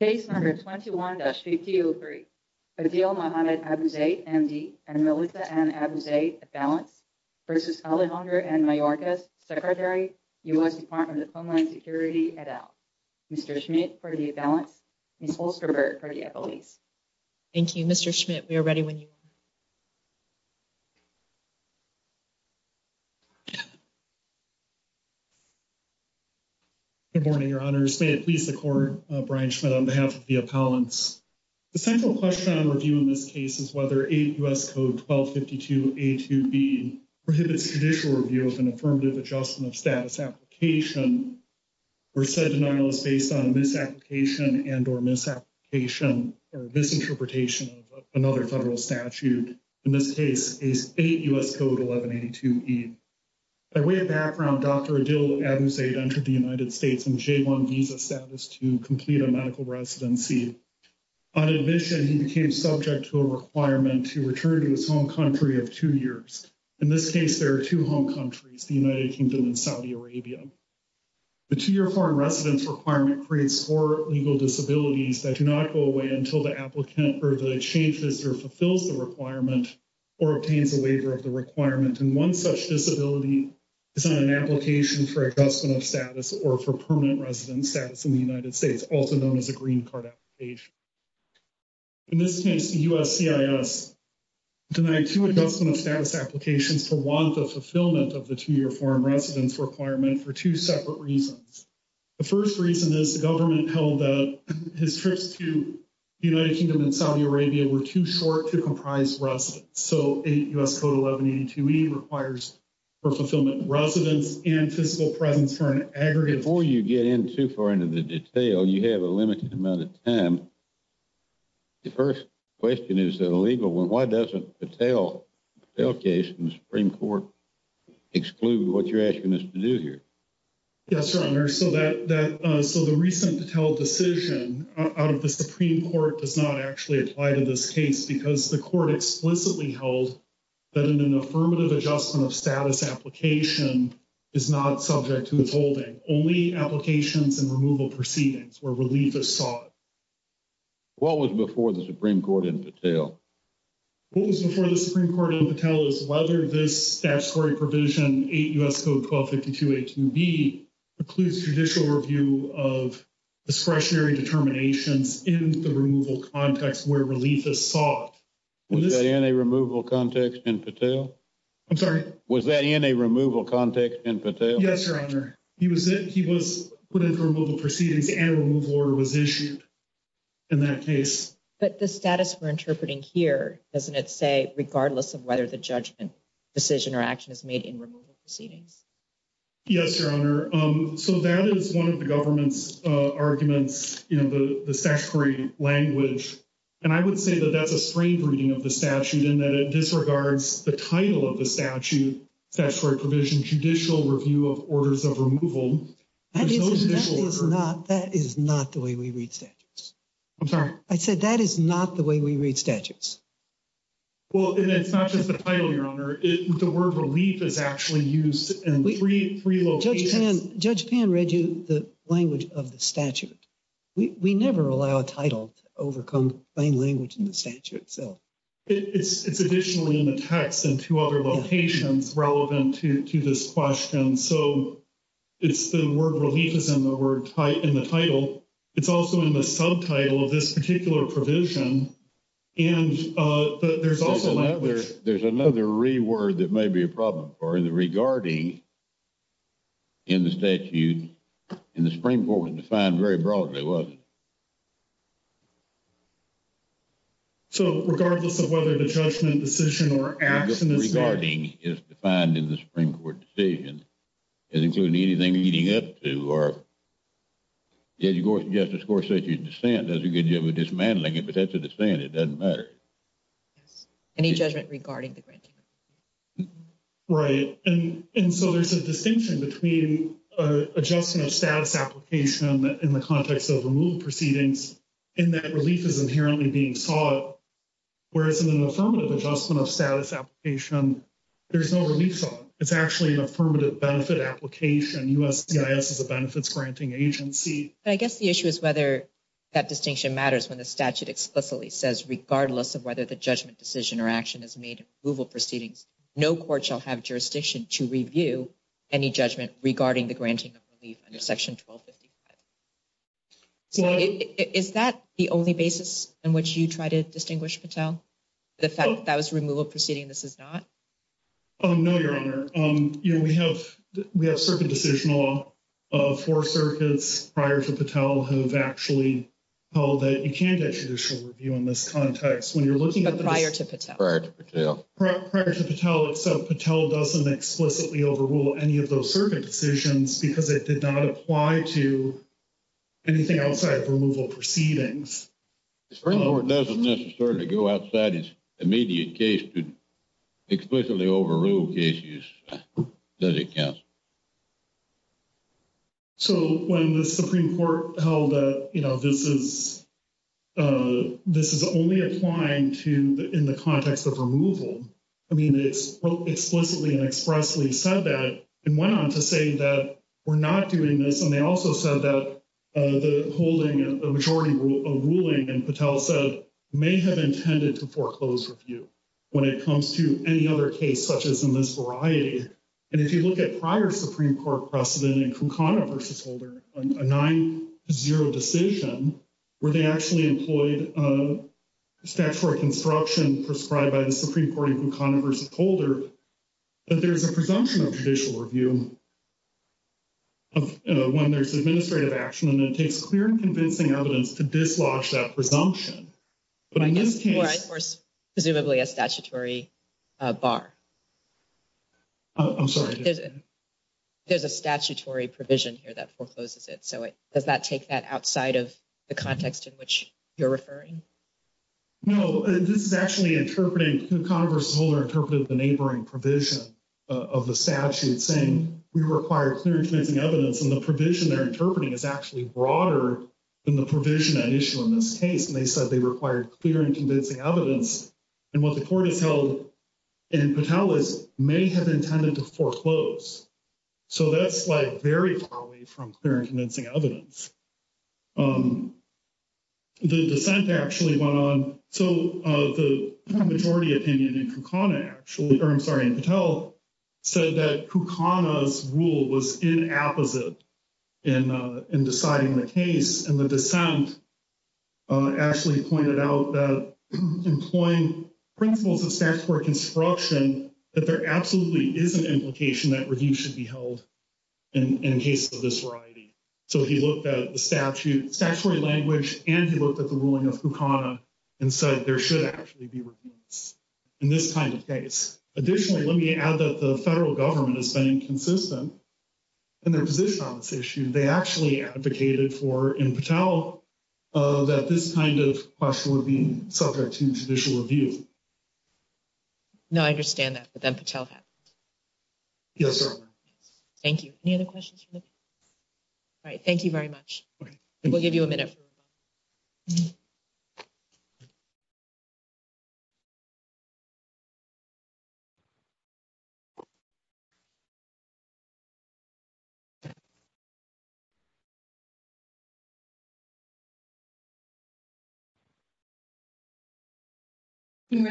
Case number 21-5303, Adil Mohamed Abuzeid, MD and Melissa Ann Abuzeid, at balance, versus Alejandro Mayorkas, Secretary, U.S. Department of Homeland Security, et al. Mr. Schmidt, for the balance. Ms. Holsterberg, for the appellees. Thank you, Mr. Schmidt. We are ready when you are. Good morning, your honors. May it please the court, Brian Schmidt, on behalf of the appellants. The central question on review in this case is whether 8 U.S. Code 1252A2B prohibits judicial review of an affirmative adjustment of status application. Or said denial is based on misapplication and or misapplication or misinterpretation of another federal statute. In this case, 8 U.S. Code 1182B. By way of background, Dr. Adil Abuzeid entered the United States in J1 visa status to complete a medical residency. On admission, he became subject to a requirement to return to his home country of 2 years. In this case, there are 2 home countries, the United Kingdom and Saudi Arabia. The 2 year foreign residence requirement creates 4 legal disabilities that do not go away until the applicant changes or fulfills the requirement. Or obtains a waiver of the requirement and 1 such disability. Is on an application for adjustment of status or for permanent residence status in the United States, also known as a green card application. In this case, the U.S. CIS Denied 2 adjustment of status applications for 1, the fulfillment of the 2 year foreign residence requirement for 2 separate reasons. The 1st reason is the government held his trips to the United Kingdom and Saudi Arabia were too short to comprise residence. So, 8 U.S. Code 1182E requires. For fulfillment residence and fiscal presence for an aggregate. Before you get in too far into the detail, you have a limited amount of time. The 1st question is that illegal when why doesn't the tail? The Supreme Court exclude what you're asking us to do here. Yes, sir. So that that so the recent to tell decision out of the Supreme Court does not actually apply to this case because the court explicitly held. That in an affirmative adjustment of status application. Is not subject to withholding only applications and removal proceedings where relief is sought. What was before the Supreme Court in the tail? What was before the Supreme Court in the tail is whether this statutory provision 8 U.S. Code 1252. A to B includes judicial review of. Discretionary determinations in the removal context where relief is sought. Was that in a removal context in Patel? I'm sorry. Was that in a removal context in Patel? Yes, your honor. He was he was put into removal proceedings and removal order was issued. In that case, but the status for interpreting here, doesn't it say, regardless of whether the judgment. Decision or action is made in removal proceedings. Yes, your honor. So that is 1 of the government's arguments, you know, the, the statutory language. And I would say that that's a strange reading of the statute in that it disregards the title of the statute. That's for a provision. Judicial review of orders of removal is not that is not the way we read statutes. I'm sorry I said that is not the way we read statutes. Well, it's not just the title your honor. The word relief is actually used and 3 locations. Judge Pan read you the language of the statute. We never allow a title to overcome plain language in the statute. So. It's it's additionally in the text and 2 other locations relevant to to this question. So. It's the word relief is in the word in the title. It's also in the subtitle of this particular provision. And there's also there's another reword that may be a problem or in the regarding. In the statute in the Supreme Court was defined very broadly. Wasn't. So, regardless of whether the judgment decision or action is regarding is defined in the Supreme Court decision. Is including anything leading up to or. Did you go to justice course that you stand as a good deal with dismantling it, but that's a descent. It doesn't matter. Any judgment regarding the right? And so there's a distinction between adjustment of status application in the context of remove proceedings. And that relief is inherently being saw it, whereas in an affirmative adjustment of status application. There's no relief. It's actually an affirmative benefit application. U. S. C. I. S. is a benefits granting agency. I guess the issue is whether. That distinction matters when the statute explicitly says, regardless of whether the judgment decision or action is made removal proceedings, no court shall have jurisdiction to review. Any judgment regarding the granting of relief under section 1255. Is that the only basis in which you try to distinguish Patel? The fact that was removal proceeding this is not. Oh, no, your honor, we have, we have certain decisional. Of 4 circuits prior to Patel have actually. All that you can't get judicial review in this context when you're looking at prior to Patel, Patel doesn't explicitly overrule any of those circuit decisions because it did not apply to. Anything outside of removal proceedings. It's very important doesn't necessarily go outside his immediate case to. Explicitly overruled issues that it counts. So, when the Supreme Court held, you know, this is. This is only applying to in the context of removal. I mean, it's explicitly and expressly said that and went on to say that we're not doing this and they also said that. Uh, the holding a majority of ruling and Patel said may have intended to foreclose review. When it comes to any other case, such as in this variety. And if you look at prior Supreme Court precedent and Congress holder, a 9 to 0 decision where they actually employed. Statutory construction prescribed by the Supreme Court in Congress holder. But there's a presumption of judicial review of when there's administrative action, and it takes clear and convincing evidence to dislodge that presumption. Presumably a statutory. Bar, I'm sorry. There's a statutory provision here that forecloses it. So it does not take that outside of the context in which you're referring. No, this is actually interpreting Congress older interpreted the neighboring provision of the statute saying we required clear and convincing evidence. And the provision they're interpreting is actually broader. In the provision that issue in this case, and they said they required clear and convincing evidence. And what the court is held and Patel is may have intended to foreclose. So, that's like, very far away from clear and convincing evidence. Um, the dissent actually went on. So, uh, the majority opinion in Kukana actually, or I'm sorry, Patel. Said that Kukana's rule was in opposite. In, uh, in deciding the case and the dissent. Actually pointed out that employing principles of statutory construction that there absolutely is an implication that review should be held. And in case of this variety, so he looked at the statute, statutory language, and he looked at the ruling of Kukana and said, there should actually be in this kind of case. Additionally, let me add that the federal government has been inconsistent. And their position on this issue, they actually advocated for in Patel. That this kind of question would be subject to judicial review. No, I understand that, but then Patel. Yes, sir. Thank you. Any other questions. All right, thank you very much. We'll give you a minute. Silence. Silence. Silence.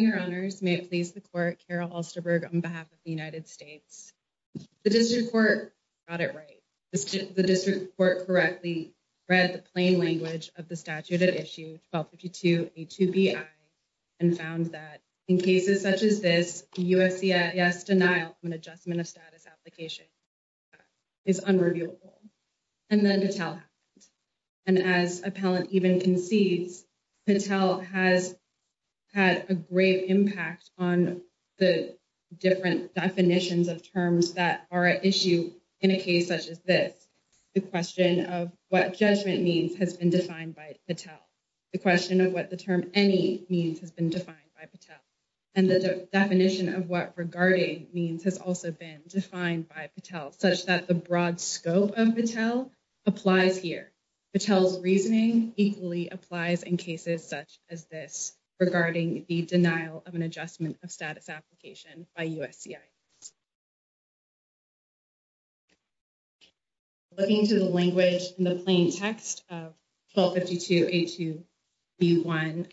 Your honors may please the court Carol Halster Berg on behalf of the United States. The district court audit, right? The district court correctly. Read the plain language of the statute at issue 1252. And found that in cases such as this, yes, denial and adjustment of status application. Is unrevealed and then the talent. And as a palate, even concedes Patel has. Had a great impact on the different definitions of terms that are an issue in a case such as this. The question of what judgment means has been defined by Patel. The question of what the term any means has been defined by Patel. And the definition of what regarding means has also been defined by Patel such that the broad scope of Patel. Applies here Patel's reasoning equally applies in cases such as this. Regarding the denial of an adjustment of status application by USC. Looking to the language in the plain text of. 1252 a to be 1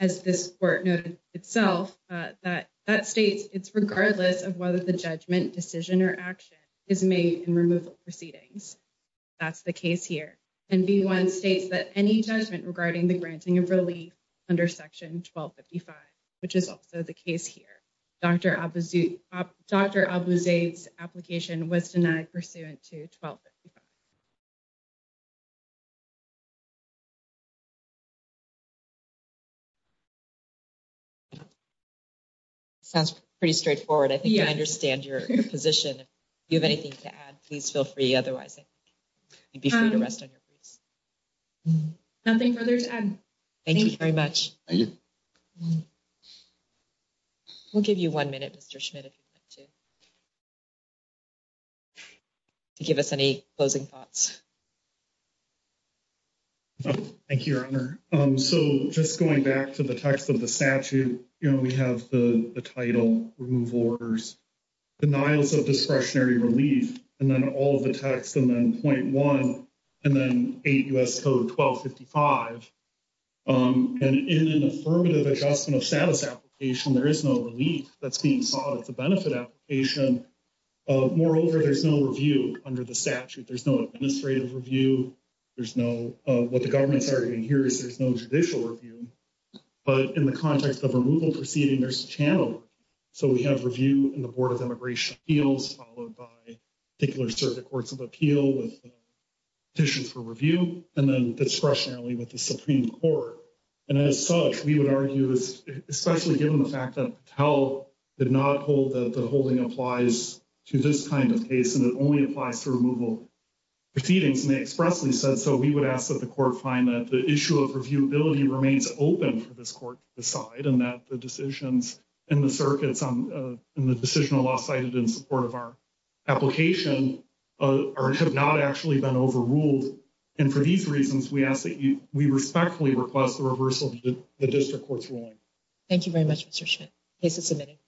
as this court noted itself that that states, it's regardless of whether the judgment decision or action is made and removal proceedings. That's the case here and be 1 states that any judgment regarding the granting of relief. Under section 1255, which is also the case here. Dr. Dr. application was denied pursuant to 12. Sounds pretty straightforward. I think I understand your position. You have anything to add please feel free. Otherwise, I'd be trying to rest on your briefs. Nothing further to add. Thank you very much. We'll give you 1 minute. Mr. Schmidt if you want to. To give us any closing thoughts, thank you. Your honor. So, just going back to the text of the statute, you know, we have the title removal orders. Denials of discretionary relief, and then all of the text and then point 1 and then 8 US code 1255. And in an affirmative adjustment of status application, there is no relief that's being sought. It's a benefit application. Moreover, there's no review under the statute. There's no administrative review. There's no what the government's arguing here is there's no judicial review. But in the context of removal proceeding, there's a channel. So, we have review in the board of immigration deals, followed by. Particular circuit courts of appeal with petitions for review and then discretionary with the Supreme Court. And as such, we would argue this, especially given the fact that tell did not hold that the holding applies to this kind of case and it only applies to removal. Proceedings may expressly said, so we would ask that the court find that the issue of review ability remains open for this court to decide and that the decisions. And the circuits on the decisional law cited in support of our. Application or have not actually been overruled. And for these reasons, we ask that we respectfully request the reversal of the district courts ruling. Thank you very much Mr. Schmidt case is submitting.